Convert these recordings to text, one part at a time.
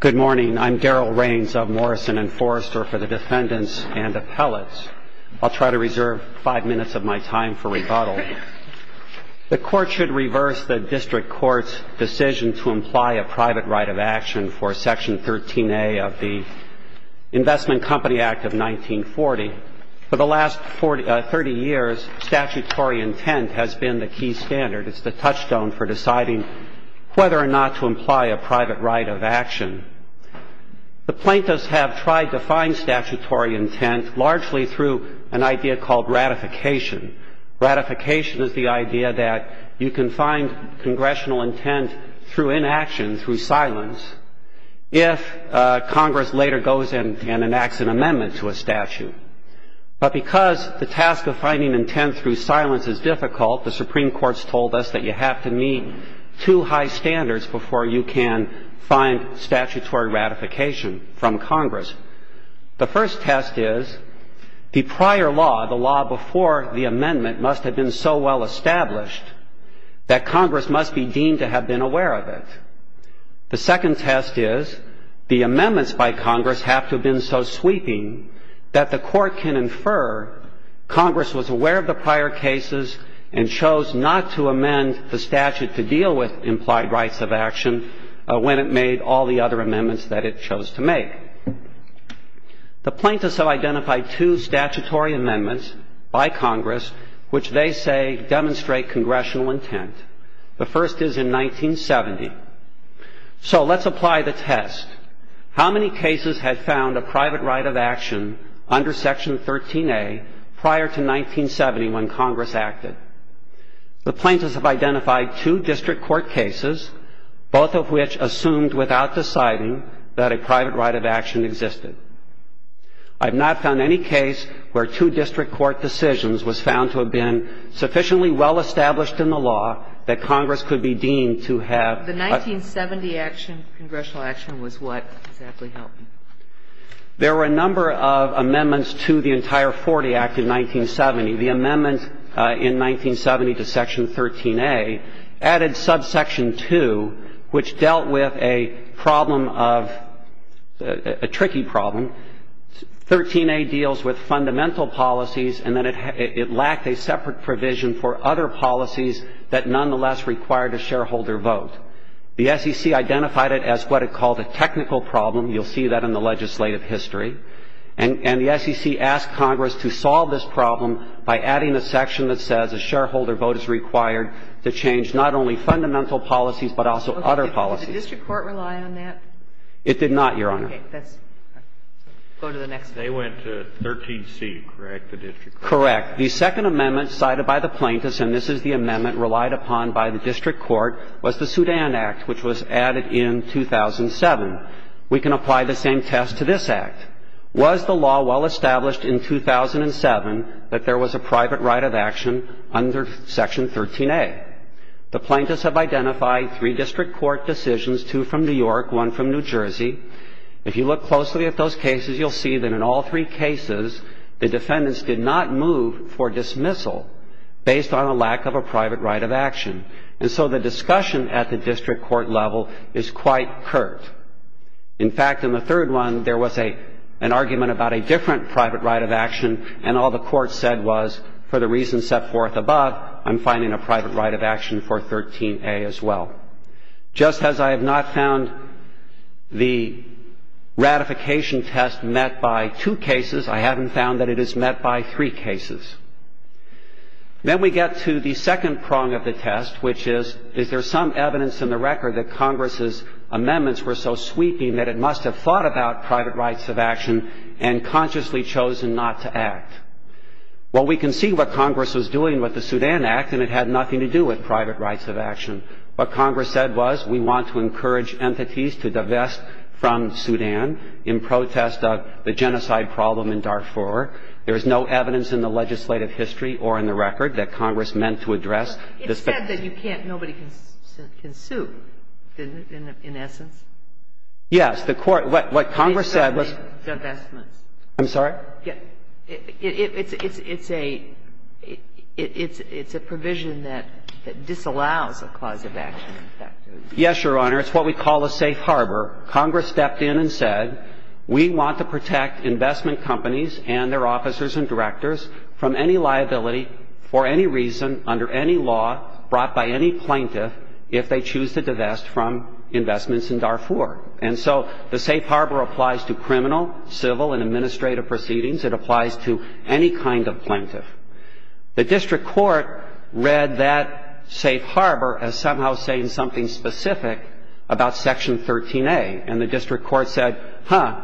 Good morning, I'm Darrell Rains of Morrison & Forrester for the Defendants and Appellates. I'll try to reserve five minutes of my time for rebuttal. The Court should reverse the District Court's decision to imply a private right of action for Section 13A of the Investment Company Act of 1940. For the last thirty years, statutory intent has been the key standard. It's the touchstone for deciding whether or not to imply a private right of action. The plaintiffs have tried to find statutory intent largely through an idea called ratification. Ratification is the idea that you can find congressional intent through inaction, through silence, if Congress later goes in and enacts an amendment to a statute. But because the task of finding intent through silence is difficult, the Supreme Court's told us that you have to meet two high standards before you can find statutory ratification from Congress. The first test is the prior law, the law before the amendment, must have been so well established that Congress must be deemed to have been aware of it. The second test is the amendments by Congress have to have been so sweeping that the Court can infer Congress was aware of the prior cases and chose not to amend the statute to deal with implied rights of action when it made all the other amendments that it chose to make. The plaintiffs have identified two statutory amendments by Congress which they say demonstrate congressional intent. The first is in 1970. So let's apply the test. How many cases had found a private right of action under Section 13A prior to 1970 when Congress acted? The plaintiffs have identified two district court cases, both of which assumed without deciding that a private right of action existed. I have not found any case where two district court decisions was found to have been sufficiently well established in the law that Congress could be deemed to have. The 1970 action, congressional action, was what exactly helped? There were a number of amendments to the entire Forty Act in 1970. The amendment in 1970 to Section 13A added subsection 2, which dealt with a problem of, a tricky problem. 13A deals with fundamental policies and that it lacked a separate provision for other policies that nonetheless required a shareholder vote. The SEC identified it as what it called a technical problem. You'll see that in the legislative history. And the SEC asked Congress to solve this problem by adding a section that says a shareholder vote is required to change not only fundamental policies, but also other policies. Okay. Did the district court rely on that? It did not, Your Honor. Okay. Let's go to the next one. They went to 13C, correct, the district court? Correct. The second amendment cited by the plaintiffs, and this is the amendment relied upon by the district court, was the Sudan Act, which was added in 2007. We can apply the same test to this Act. Was the law well established in 2007 that there was a private right of action under Section 13A? The plaintiffs have identified three district court decisions, two from New York, one from New Jersey. If you look closely at those cases, you'll see that in all three cases the defendants did not move for dismissal based on a lack of a private right of action. And so the discussion at the district court level is quite curt. In fact, in the third one, there was an argument about a different private right of action, and all the court said was for the reasons set forth above, I'm finding a private right of action for 13A as well. Just as I have not found the ratification test met by two cases, I haven't found that it is met by three cases. Then we get to the second prong of the test, which is, is there some evidence in the record that Congress's amendments were so sweeping that it must have thought about private rights of action and consciously chosen not to act? Well, we can see what Congress was doing with the Sudan Act, and it had nothing to do with private rights of action. What Congress said was, we want to encourage entities to divest from Sudan in protest of the genocide problem in Darfur. There is no evidence in the legislative history or in the record that Congress meant to address this. It said that you can't, nobody can sue, didn't it, in essence? Yes. The court, what Congress said was. Divestments. I'm sorry? It's a provision that disallows a clause of action. Yes, Your Honor. It's what we call a safe harbor. Congress stepped in and said, we want to protect investment companies and their officers and directors from any liability for any reason under any law brought by any plaintiff if they choose to divest from investments in Darfur. And so the safe harbor applies to criminal, civil, and administrative proceedings. It applies to any kind of plaintiff. The district court read that safe harbor as somehow saying something specific about Section 13A. And the district court said, huh,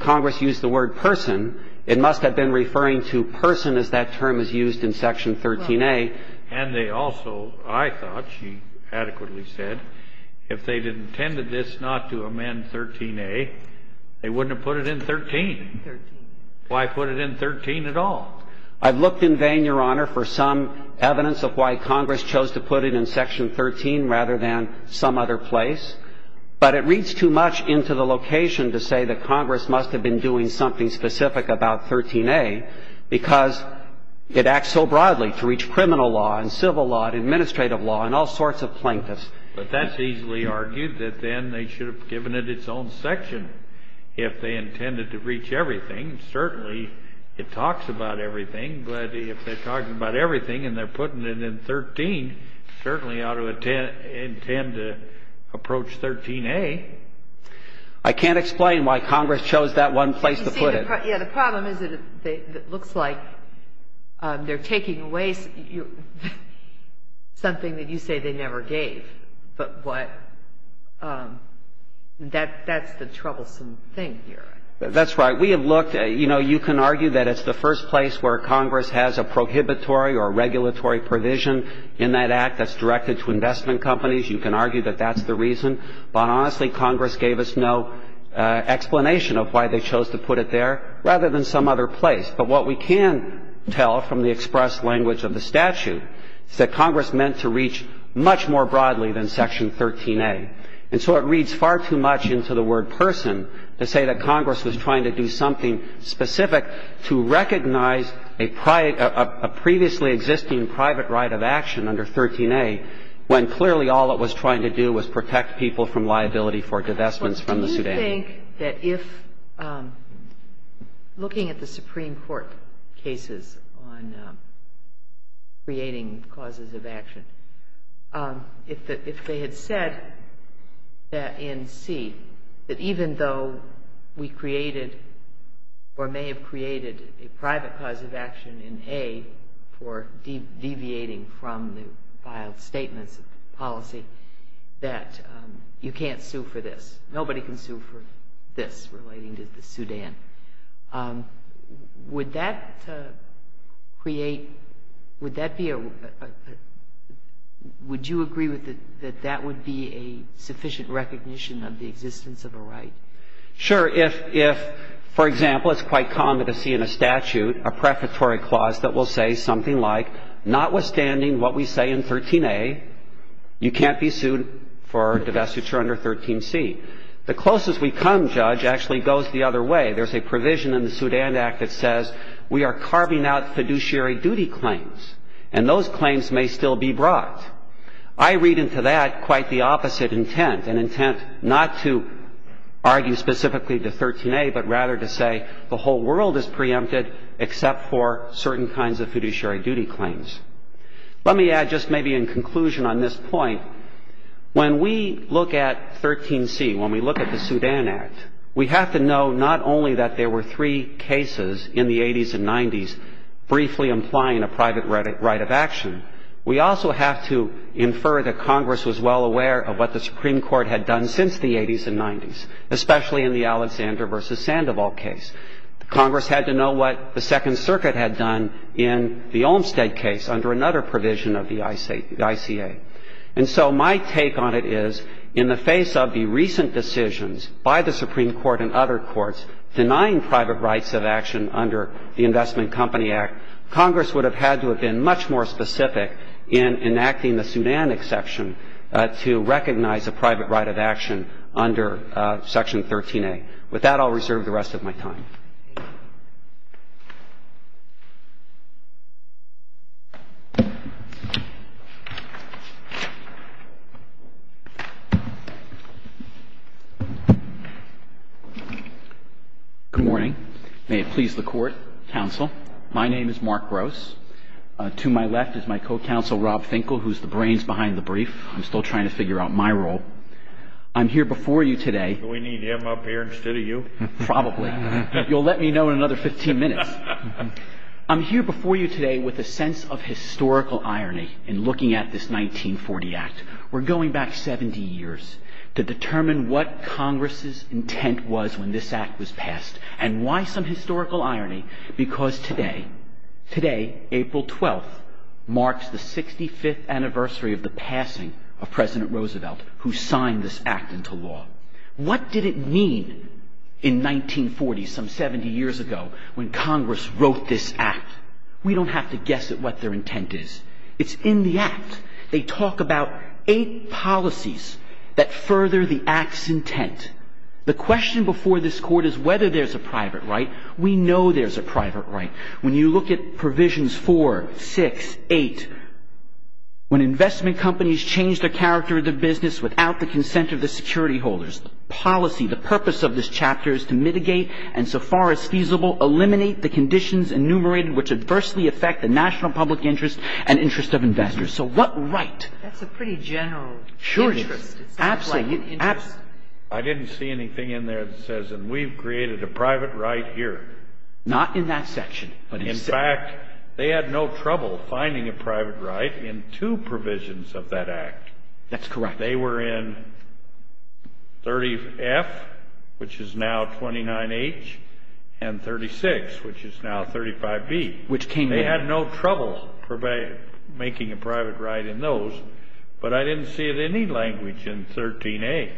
Congress used the word person. It must have been referring to person as that term is used in Section 13A. And they also, I thought, she adequately said, if they had intended this not to amend 13A, they wouldn't have put it in 13. 13. Why put it in 13 at all? I've looked in vain, Your Honor, for some evidence of why Congress chose to put it in Section 13 rather than some other place. But it reads too much into the location to say that Congress must have been doing something specific about 13A because it acts so broadly to reach criminal law and civil law and administrative law and all sorts of plaintiffs. But that's easily argued that then they should have given it its own section if they intended to reach everything. Certainly, it talks about everything. But if they're talking about everything and they're putting it in 13, certainly ought to intend to approach 13A. I can't explain why Congress chose that one place to put it. Yeah. The problem is it looks like they're taking away something that you say they never gave. But what that's the troublesome thing here. That's right. We have looked at, you know, you can argue that it's the first place where Congress has a prohibitory or regulatory provision in that act that's directed to investment companies. You can argue that that's the reason. But honestly, Congress gave us no explanation of why they chose to put it there rather than some other place. But what we can tell from the express language of the statute is that Congress meant to reach much more broadly than Section 13A. And so it reads far too much into the word person to say that Congress was trying to do something specific to recognize a previously existing private right of action under 13A, when clearly all it was trying to do was protect people from liability for divestments from the Sudan. I think that if looking at the Supreme Court cases on creating causes of action, if they had said that in C, that even though we created or may have created a private cause of action in A for deviating from the filed statements of policy, that you can't sue for this. Nobody can sue for this relating to the Sudan. Would that create – would that be a – would you agree that that would be a sufficient recognition of the existence of a right? Sure. If, for example, it's quite common to see in a statute a prefatory clause that will say something like, notwithstanding what we say in 13A, you can't be sued for divestiture under 13C. The closest we come, Judge, actually goes the other way. There's a provision in the Sudan Act that says we are carving out fiduciary duty claims, and those claims may still be brought. I read into that quite the opposite intent, an intent not to argue specifically to 13A, but rather to say the whole world is preempted except for certain kinds of fiduciary duty claims. Let me add just maybe in conclusion on this point. When we look at 13C, when we look at the Sudan Act, we have to know not only that there were three cases in the 80s and 90s briefly implying a private right of action. We also have to infer that Congress was well aware of what the Supreme Court had done since the 80s and 90s, especially in the Alexander v. Sandoval case. Congress had to know what the Second Circuit had done in the Olmstead case under another provision of the ICA. And so my take on it is, in the face of the recent decisions by the Supreme Court and other courts denying private rights of action under the Investment Company Act, Congress would have had to have been much more specific in enacting the Sudan exception to recognize a private right of action under Section 13A. With that, I'll reserve the rest of my time. Thank you. Good morning. May it please the Court, Counsel. My name is Mark Gross. To my left is my co-counsel, Rob Finkel, who's the brains behind the brief. I'm still trying to figure out my role. I'm here before you today. Do we need him up here instead of you? Probably. You'll let me know in another 15 minutes. I'm here before you today with a sense of historical irony in looking at this 1940 Act. We're going back 70 years to determine what Congress's intent was when this Act was passed. And why some historical irony? Because today, April 12th, marks the 65th anniversary of the passing of President Roosevelt, who signed this Act into law. What did it mean in 1940, some 70 years ago, when Congress wrote this Act? We don't have to guess at what their intent is. It's in the Act. They talk about eight policies that further the Act's intent. The question before this Court is whether there's a private right. We know there's a private right. When you look at Provisions 4, 6, 8, when investment companies change the character of their business without the consent of the security holders, the policy, the purpose of this chapter is to mitigate, and so far as feasible, eliminate the conditions enumerated which adversely affect the national public interest and interest of investors. So what right? That's a pretty general interest. It's not like an interest. I didn't see anything in there that says, and we've created a private right here. Not in that section. In fact, they had no trouble finding a private right in two provisions of that Act. That's correct. They were in 30F, which is now 29H, and 36, which is now 35B. They had no trouble making a private right in those, but I didn't see it in any language in 13A.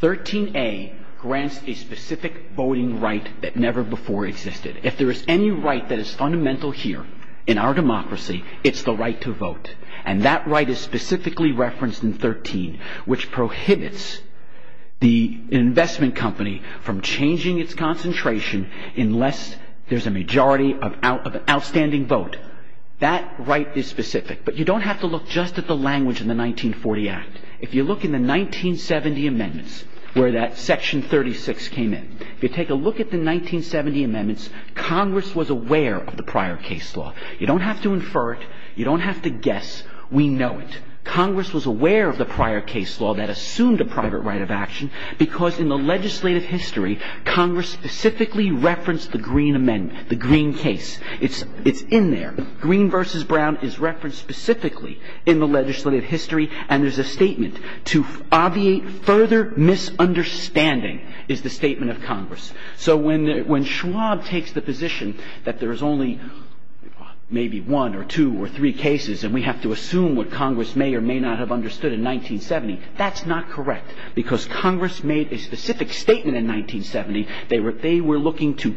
13A grants a specific voting right that never before existed. If there is any right that is fundamental here in our democracy, it's the right to vote. And that right is specifically referenced in 13, which prohibits the investment company from changing its concentration unless there's a majority of outstanding vote. That right is specific, but you don't have to look just at the language in the 1940 Act. If you look in the 1970 amendments, where that section 36 came in, if you take a look at the 1970 amendments, Congress was aware of the prior case law. You don't have to infer it. You don't have to guess. We know it. Congress was aware of the prior case law that assumed a private right of action because in the legislative history, Congress specifically referenced the Green Amendment, the Green case. It's in there. Green v. Brown is referenced specifically in the legislative history, and there's a statement. To obviate further misunderstanding is the statement of Congress. So when Schwab takes the position that there is only maybe one or two or three cases and we have to assume what Congress may or may not have understood in 1970, that's not correct because Congress made a specific statement in 1970. They were looking to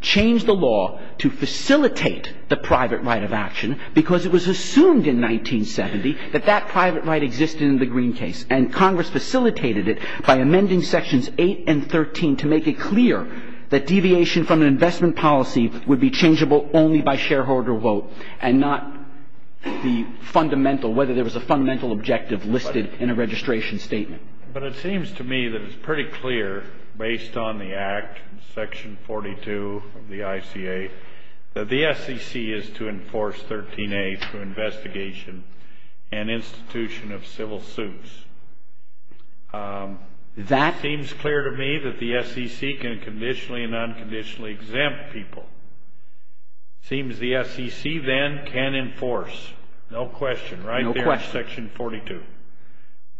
change the law to facilitate the private right of action because it was assumed in 1970 that that private right existed in the Green case. And Congress facilitated it by amending Sections 8 and 13 to make it clear that deviation from an investment policy would be changeable only by shareholder vote and not the fundamental, whether there was a fundamental objective listed in a registration statement. But it seems to me that it's pretty clear, based on the Act, Section 42 of the ICA, that the SEC is to enforce 13A through investigation and institution of civil suits. It seems clear to me that the SEC can conditionally and unconditionally exempt people. It seems the SEC then can enforce, no question, right there in Section 42.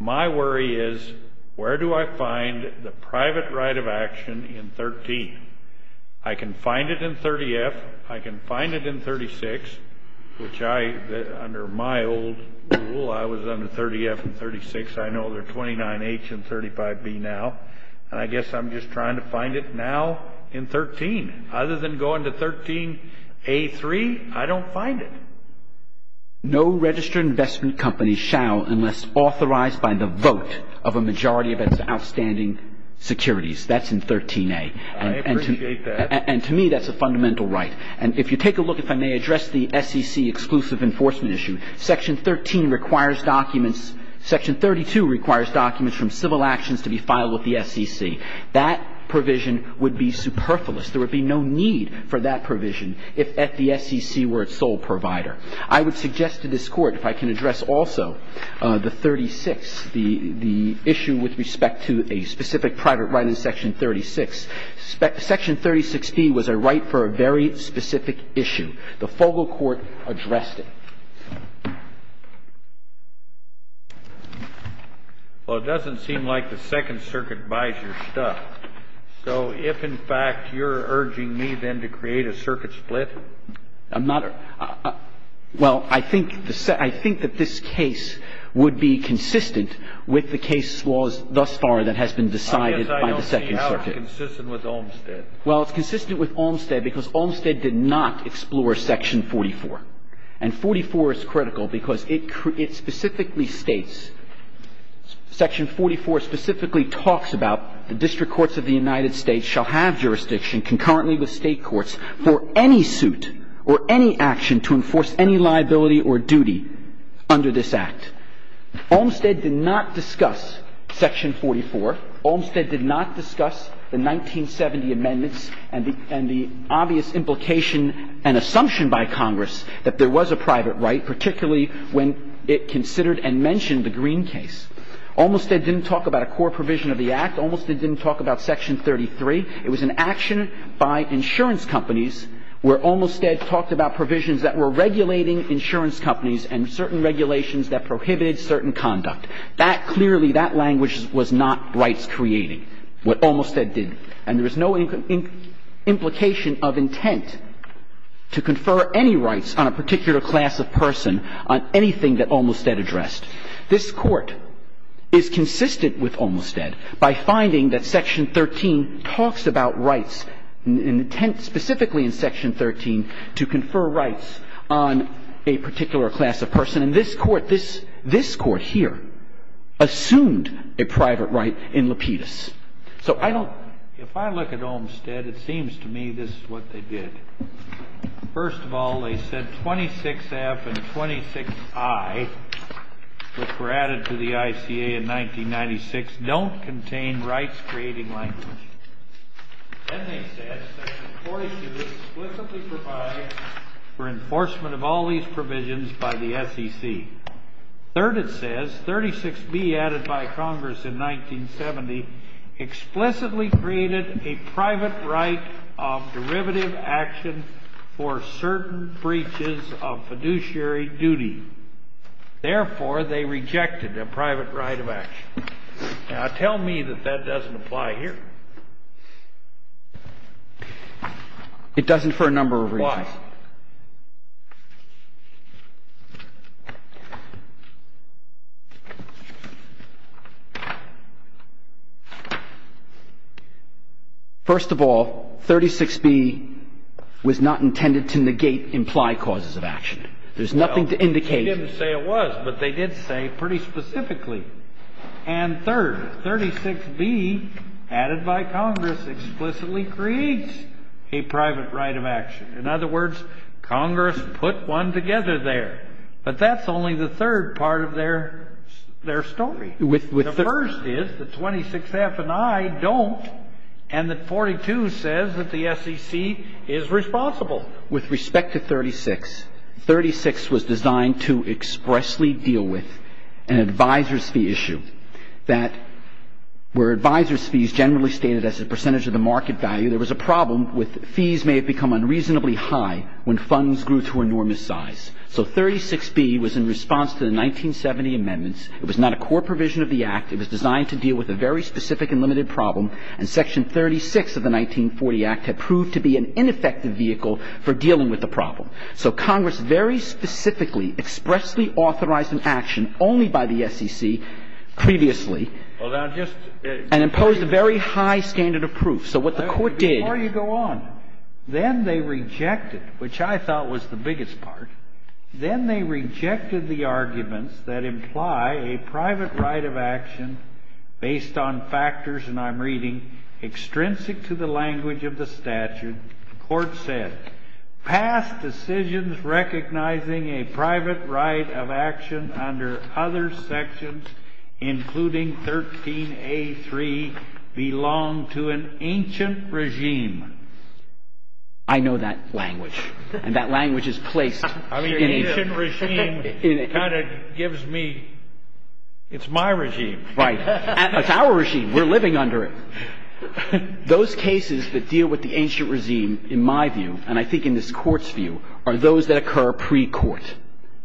My worry is where do I find the private right of action in 13? I can find it in 30F. I can find it in 36, which I, under my old rule, I was under 30F and 36. I know they're 29H and 35B now. And I guess I'm just trying to find it now in 13. Other than going to 13A3, I don't find it. No registered investment company shall unless authorized by the vote of a majority of its outstanding securities. That's in 13A. I appreciate that. And to me, that's a fundamental right. And if you take a look, if I may address the SEC exclusive enforcement issue, Section 13 requires documents, Section 32 requires documents from civil actions to be filed with the SEC. That provision would be superfluous. There would be no need for that provision if at the SEC were its sole provider. I would suggest to this Court, if I can address also the 36, the issue with respect to a specific private right in Section 36, Section 36B was a right for a very specific issue. The Fogel Court addressed it. Well, it doesn't seem like the Second Circuit buys your stuff. So if, in fact, you're urging me, then, to create a circuit split? Well, I think that this case would be consistent with the case thus far that has been decided by the Second Circuit. I guess I don't see how it's consistent with Olmstead. Well, it's consistent with Olmstead because Olmstead did not explore Section 44. And 44 is critical because it specifically states, Section 44 specifically talks about the District Courts of the United States shall have jurisdiction concurrently with State Courts for any suit or any action to enforce any liability or duty under this Act. Olmstead did not discuss Section 44. Olmstead did not discuss the 1970 amendments and the obvious implication and assumption by Congress that there was a private right, particularly when it considered and mentioned the Green case. Olmstead didn't talk about a core provision of the Act. Olmstead didn't talk about Section 33. It was an action by insurance companies where Olmstead talked about provisions that were regulating insurance companies and certain regulations that prohibited certain conduct. That clearly, that language was not rights-creating, what Olmstead did. And there is no implication of intent to confer any rights on a particular class of person on anything that Olmstead addressed. This Court is consistent with Olmstead by finding that Section 13 talks about rights, intent specifically in Section 13 to confer rights on a particular class of person. And this Court, this Court here, assumed a private right in Lapidus. So I don't ---- Olmstead, it seems to me this is what they did. First of all, they said 26F and 26I, which were added to the ICA in 1996, don't contain rights-creating language. Then they said Section 42 explicitly provides for enforcement of all these provisions by the SEC. Third, it says 36B added by Congress in 1970 explicitly created a private right of derivative action for certain breaches of fiduciary duty. Therefore, they rejected a private right of action. Now, tell me that that doesn't apply here. It doesn't for a number of reasons. Why? First of all, 36B was not intended to negate implied causes of action. There's nothing to indicate ---- Well, they didn't say it was, but they did say pretty specifically. And third, 36B added by Congress explicitly creates a private right of action. In other words, Congress put one together there. But that's only the third part of their story. The first is that 26F and I don't, and that 42 says that the SEC is responsible. With respect to 36, 36 was designed to expressly deal with an advisor's fee issue that where advisor's fees generally stated as a percentage of the market value, there was a problem with fees may have become unreasonably high when funds grew to enormous size. So 36B was in response to the 1970 amendments. It was not a core provision of the Act. It was designed to deal with a very specific and limited problem. And Section 36 of the 1940 Act had proved to be an ineffective vehicle for dealing with the problem. So Congress very specifically expressly authorized an action only by the SEC previously and imposed a very high standard of proof. So what the Court did… Before you go on, then they rejected, which I thought was the biggest part, then they rejected the arguments that imply a private right of action based on factors, and I'm reading, extrinsic to the language of the statute. The Court said, past decisions recognizing a private right of action under other sections, including 13A3, belong to an ancient regime. I know that language, and that language is placed… I mean, ancient regime kind of gives me… It's my regime. Right. It's our regime. We're living under it. Those cases that deal with the ancient regime, in my view, and I think in this Court's view, are those that occur pre-court,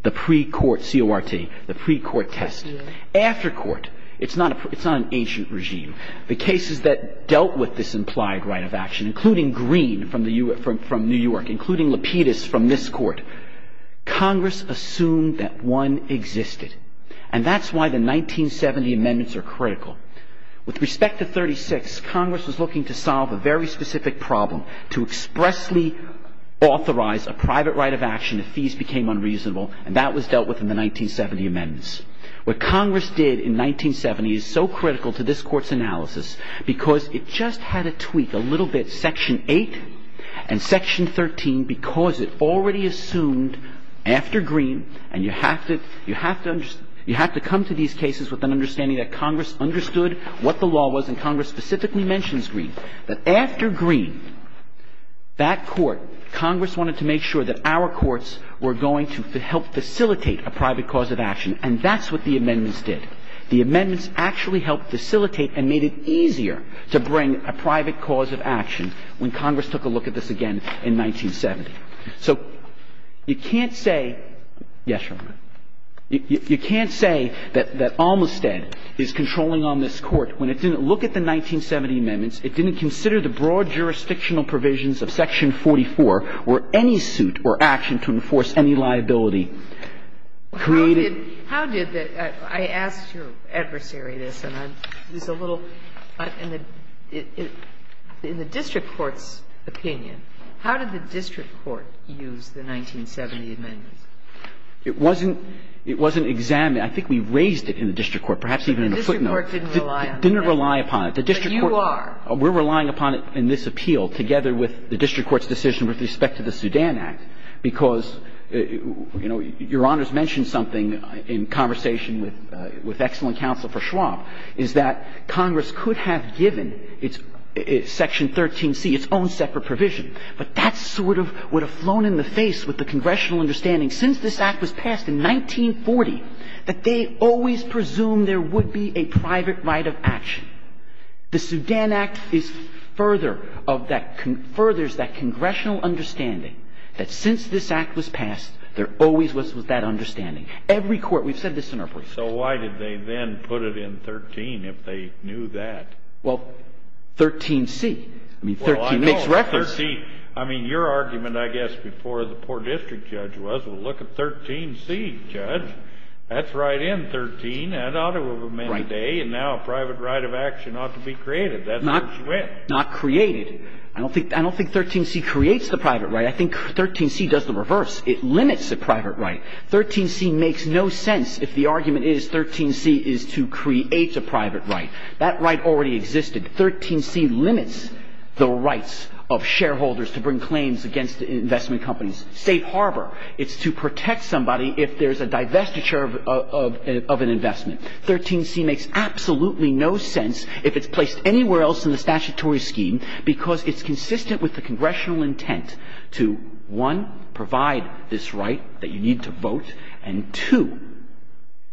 the pre-court C.O.R.T., the pre-court test. After court, it's not an ancient regime. The cases that dealt with this implied right of action, including Green from New York, including Lapidus from this Court, Congress assumed that one existed. And that's why the 1970 amendments are critical. With respect to 36, Congress was looking to solve a very specific problem, to expressly authorize a private right of action if fees became unreasonable, and that was dealt with in the 1970 amendments. What Congress did in 1970 is so critical to this Court's analysis, because it just had to tweak a little bit section 8 and section 13, because it already assumed after Green, and you have to come to these cases with an understanding that Congress understood what the law was, and Congress specifically mentions Green, that after Green, that Court, Congress wanted to make sure that our courts were going to help facilitate a private cause of action, and that's what the amendments did. The amendments actually helped facilitate and made it easier to bring a private cause of action when Congress took a look at this again in 1970. So you can't say yes, Your Honor, you can't say that Almostead is controlling on this Court when it didn't look at the 1970 amendments, it didn't consider the broad jurisdictional provisions of section 44 or any suit or action to enforce any liability, created How did the How did the I asked your adversary this, and I'm I think we raised it in the district court, perhaps even in a footnote. The district court didn't rely on that. Didn't rely upon it. But you are. We're relying upon it in this appeal, together with the district court's decision with respect to the Sudan Act, because, you know, Your Honor's mentioned something in conversation with excellent counsel for Schwab, is that Congress could have given its section 13C, its own separate provision, but that sort of would have flown in the face with the congressional understanding since this Act was passed in 1940 that they always presumed there would be a private right of action. The Sudan Act is further of that, furthers that congressional understanding that since this Act was passed, there always was that understanding. Every court, we've said this in our briefs. So why did they then put it in 13 if they knew that? Well, 13C. I mean, 13 makes reference. Well, I know. 13. I mean, your argument, I guess, before the poor district judge was, well, look at 13C, Judge. That's right in 13. That ought to have been today. And now a private right of action ought to be created. That's where she went. Not created. I don't think 13C creates the private right. I think 13C does the reverse. It limits the private right. 13C makes no sense if the argument is 13C is to create a private right. That right already existed. 13C limits the rights of shareholders to bring claims against investment companies. Safe harbor. It's to protect somebody if there's a divestiture of an investment. 13C makes absolutely no sense if it's placed anywhere else in the statutory scheme because it's consistent with the congressional intent to, one, provide this right that you need to vote, and, two,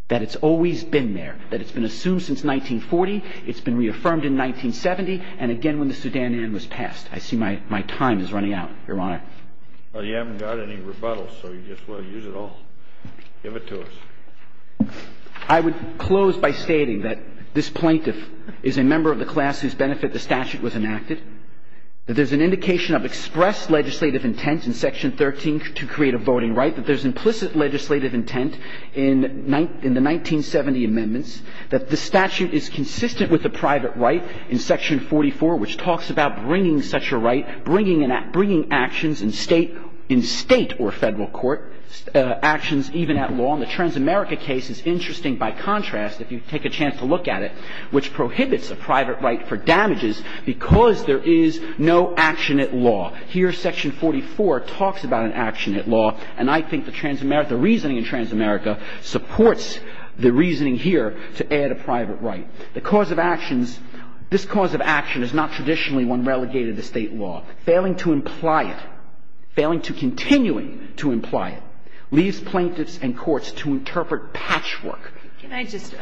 that it's always been there, that it's been assumed since 1940, it's been reaffirmed in 1970, and again when the Sudan Anne was passed. I see my time is running out, Your Honor. Well, you haven't got any rebuttals, so you just want to use it all. Give it to us. I would close by stating that this plaintiff is a member of the class whose benefit the statute was enacted, that there's an indication of express legislative intent in Section 13 to create a voting right, that there's implicit legislative intent in the 1970 amendments, that the statute is consistent with the private right in Section 44, which talks about bringing such a right, bringing actions in state or federal court, actions even at law. And the Transamerica case is interesting by contrast, if you take a chance to look at it, which prohibits a private right for damages because there is no action at law. Here, Section 44 talks about an action at law, and I think the reason in Transamerica supports the reasoning here to add a private right. The cause of actions, this cause of action is not traditionally one relegated to state law. Failing to imply it, failing to continue to imply it, leaves plaintiffs and courts to interpret patchwork. Can I just,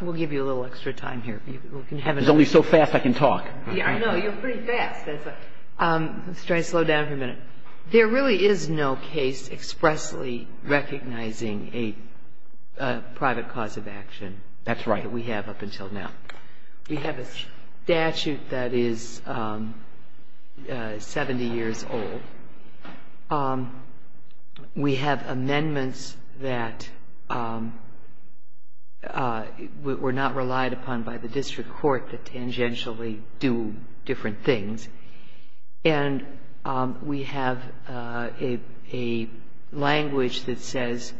we'll give you a little extra time here. There's only so fast I can talk. I know, you're pretty fast. Let's try to slow down for a minute. There really is no case expressly recognizing a private cause of action. That's right. That we have up until now. We have a statute that is 70 years old. We have amendments that were not relied upon by the district court that tangentially do different things. And we have a language that says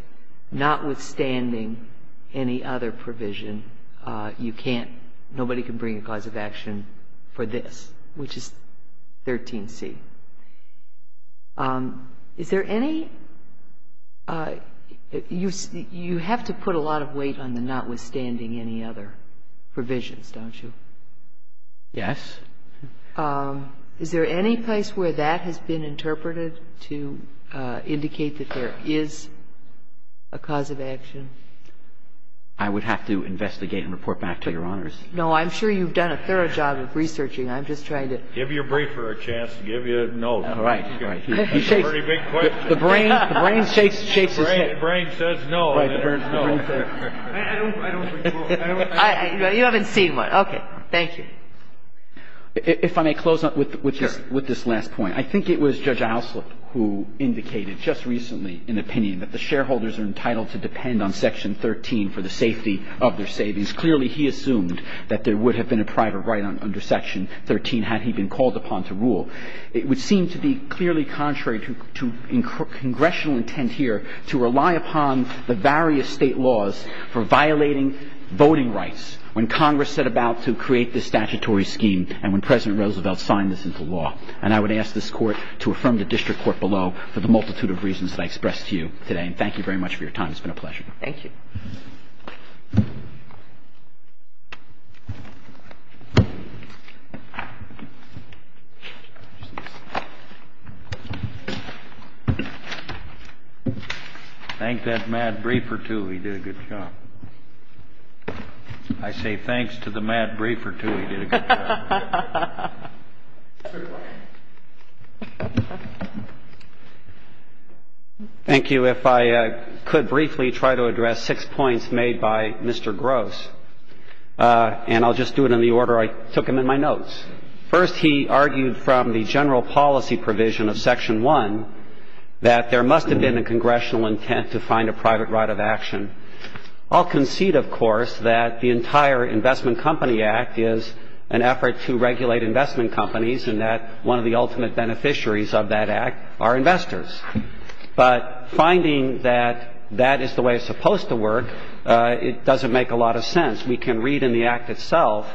notwithstanding any other provision, you can't, nobody can bring a cause of action for this, which is 13C. Is there any, you have to put a lot of weight on the notwithstanding any other provisions, don't you? Yes. Is there any place where that has been interpreted to indicate that there is a cause of action? I would have to investigate and report back to Your Honors. No, I'm sure you've done a thorough job of researching. I'm just trying to. Give your briefer a chance to give you a note. All right. That's a pretty big question. The brain shakes his head. The brain says no. Right, the brain says no. I don't recall. You haven't seen one. Okay. Thank you. If I may close up with this last point. Sure. I think it was Judge Ouslet who indicated just recently an opinion that the shareholders are entitled to depend on Section 13 for the safety of their savings. Clearly, he assumed that there would have been a private right under Section 13 had he been called upon to rule. It would seem to be clearly contrary to congressional intent here to rely upon the various state laws for violating voting rights when Congress set about to create this statutory scheme and when President Roosevelt signed this into law. And I would ask this Court to affirm the District Court below for the multitude of reasons that I expressed to you today. And thank you very much for your time. It's been a pleasure. Thank you. Thank that mad briefer, too. He did a good job. I say thanks to the mad briefer, too. Thank you. If I could briefly try to address six points made by Mr. Gross. And I'll just do it in the order I took him in my notes. First, he argued from the general policy provision of Section 1 that there must have been a congressional intent to find a private right of action. I'll concede, of course, that the entire Investment Company Act is an effort to regulate investment companies and that one of the ultimate beneficiaries of that act are investors. But finding that that is the way it's supposed to work, it doesn't make a lot of sense. We can read in the Act itself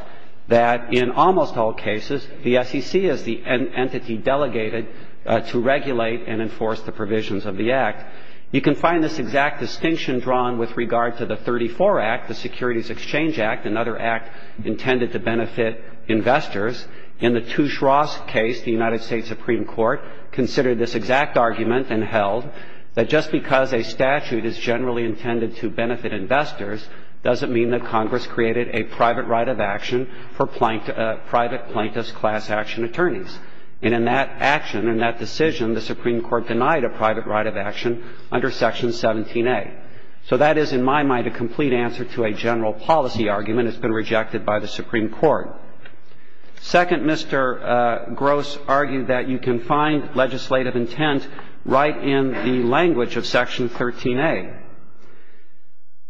that in almost all cases the SEC is the entity delegated to regulate and enforce the provisions of the Act. You can find this exact distinction drawn with regard to the 34 Act, the Securities Exchange Act, another act intended to benefit investors. In the Touche Ross case, the United States Supreme Court considered this exact argument and held that just because a statute is generally intended to benefit investors doesn't mean that Congress created a private right of action for private plaintiff's class action attorneys. And in that action, in that decision, the Supreme Court denied a private right of action under Section 17a. So that is, in my mind, a complete answer to a general policy argument. It's been rejected by the Supreme Court. Second, Mr. Gross argued that you can find legislative intent right in the language of Section 13a.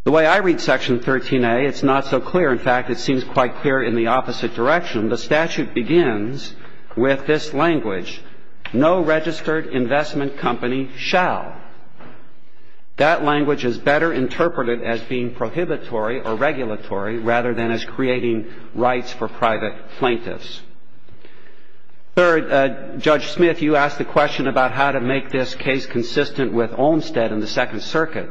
The way I read Section 13a, it's not so clear. In fact, it seems quite clear in the opposite direction. The statute begins with this language, no registered investment company shall. That language is better interpreted as being prohibitory or regulatory rather than as creating rights for private plaintiffs. Third, Judge Smith, you asked the question about how to make this case consistent with Olmstead and the Second Circuit.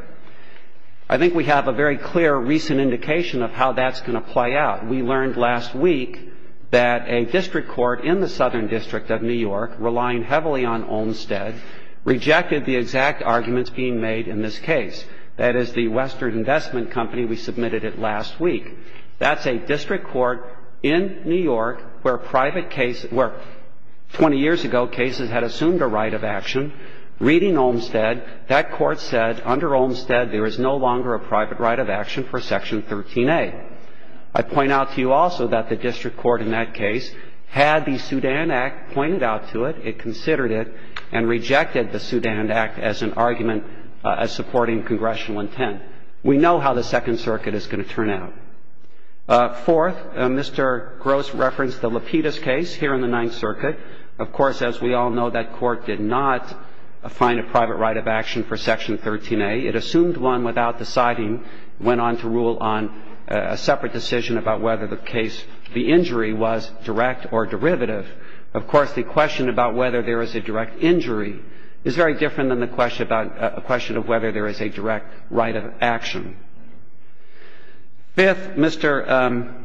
I think we have a very clear recent indication of how that's going to play out. We learned last week that a district court in the Southern District of New York, relying heavily on Olmstead, rejected the exact arguments being made in this case. That is the Western Investment Company. We submitted it last week. That's a district court in New York where private case – where 20 years ago cases had assumed a right of action. Reading Olmstead, that court said under Olmstead there is no longer a private right of action for Section 13a. I point out to you also that the district court in that case had the Sudan Act pointed out to it, it considered it, and rejected the Sudan Act as an argument supporting congressional intent. We know how the Second Circuit is going to turn out. Fourth, Mr. Gross referenced the Lapidus case here in the Ninth Circuit. Of course, as we all know, that court did not find a private right of action for Section 13a. It assumed one without deciding, went on to rule on a separate decision about whether the case – the injury was direct or derivative. Of course, the question about whether there is a direct injury is very different than the question about – a question of whether there is a direct right of action. Fifth, Mr.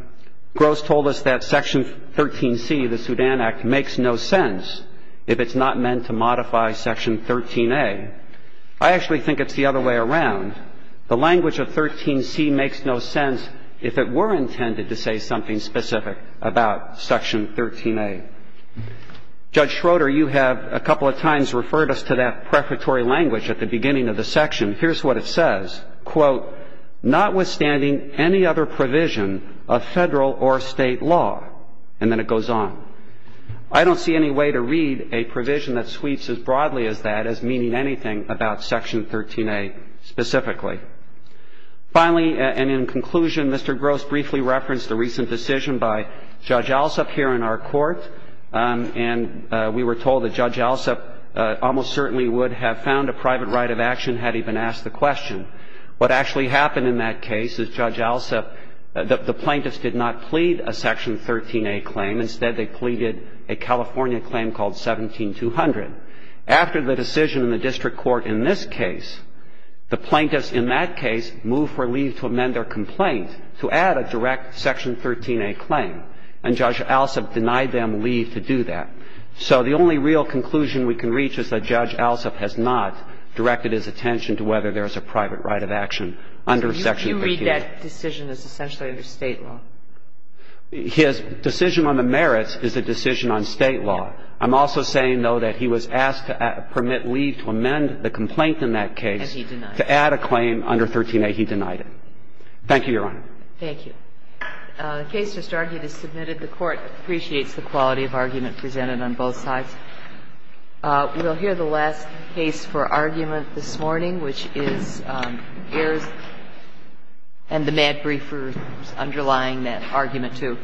Gross told us that Section 13c, the Sudan Act, makes no sense if it's not meant to modify Section 13a. I actually think it's the other way around. The language of 13c makes no sense if it were intended to say something specific about Section 13a. Judge Schroeder, you have a couple of times referred us to that prefatory language at the beginning of the section. Here's what it says. Quote, notwithstanding any other provision of Federal or State law, and then it goes on. I don't see any way to read a provision that sweeps as broadly as that as meaning anything about Section 13a specifically. Finally, and in conclusion, Mr. Gross briefly referenced a recent decision by Judge Alsop here in our Court, and we were told that Judge Alsop almost certainly would have found a private right of action had he been asked the question. What actually happened in that case is Judge Alsop – the plaintiffs did not plead a Section 13a claim. Instead, they pleaded a California claim called 17-200. After the decision in the district court in this case, the plaintiffs in that case moved for leave to amend their complaint to add a direct Section 13a claim, and Judge Alsop denied them leave to do that. So the only real conclusion we can reach is that Judge Alsop has not directed his attention to whether there is a private right of action under Section 13a. You read that decision as essentially under State law. His decision on the merits is a decision on State law. I'm also saying, though, that he was asked to permit leave to amend the complaint in that case to add a claim under 13a. He denied it. Thank you, Your Honor. Thank you. The case just argued is submitted. The Court appreciates the quality of argument presented on both sides. We will hear the last case for argument this morning, which is Ayers and the Mad argument, too.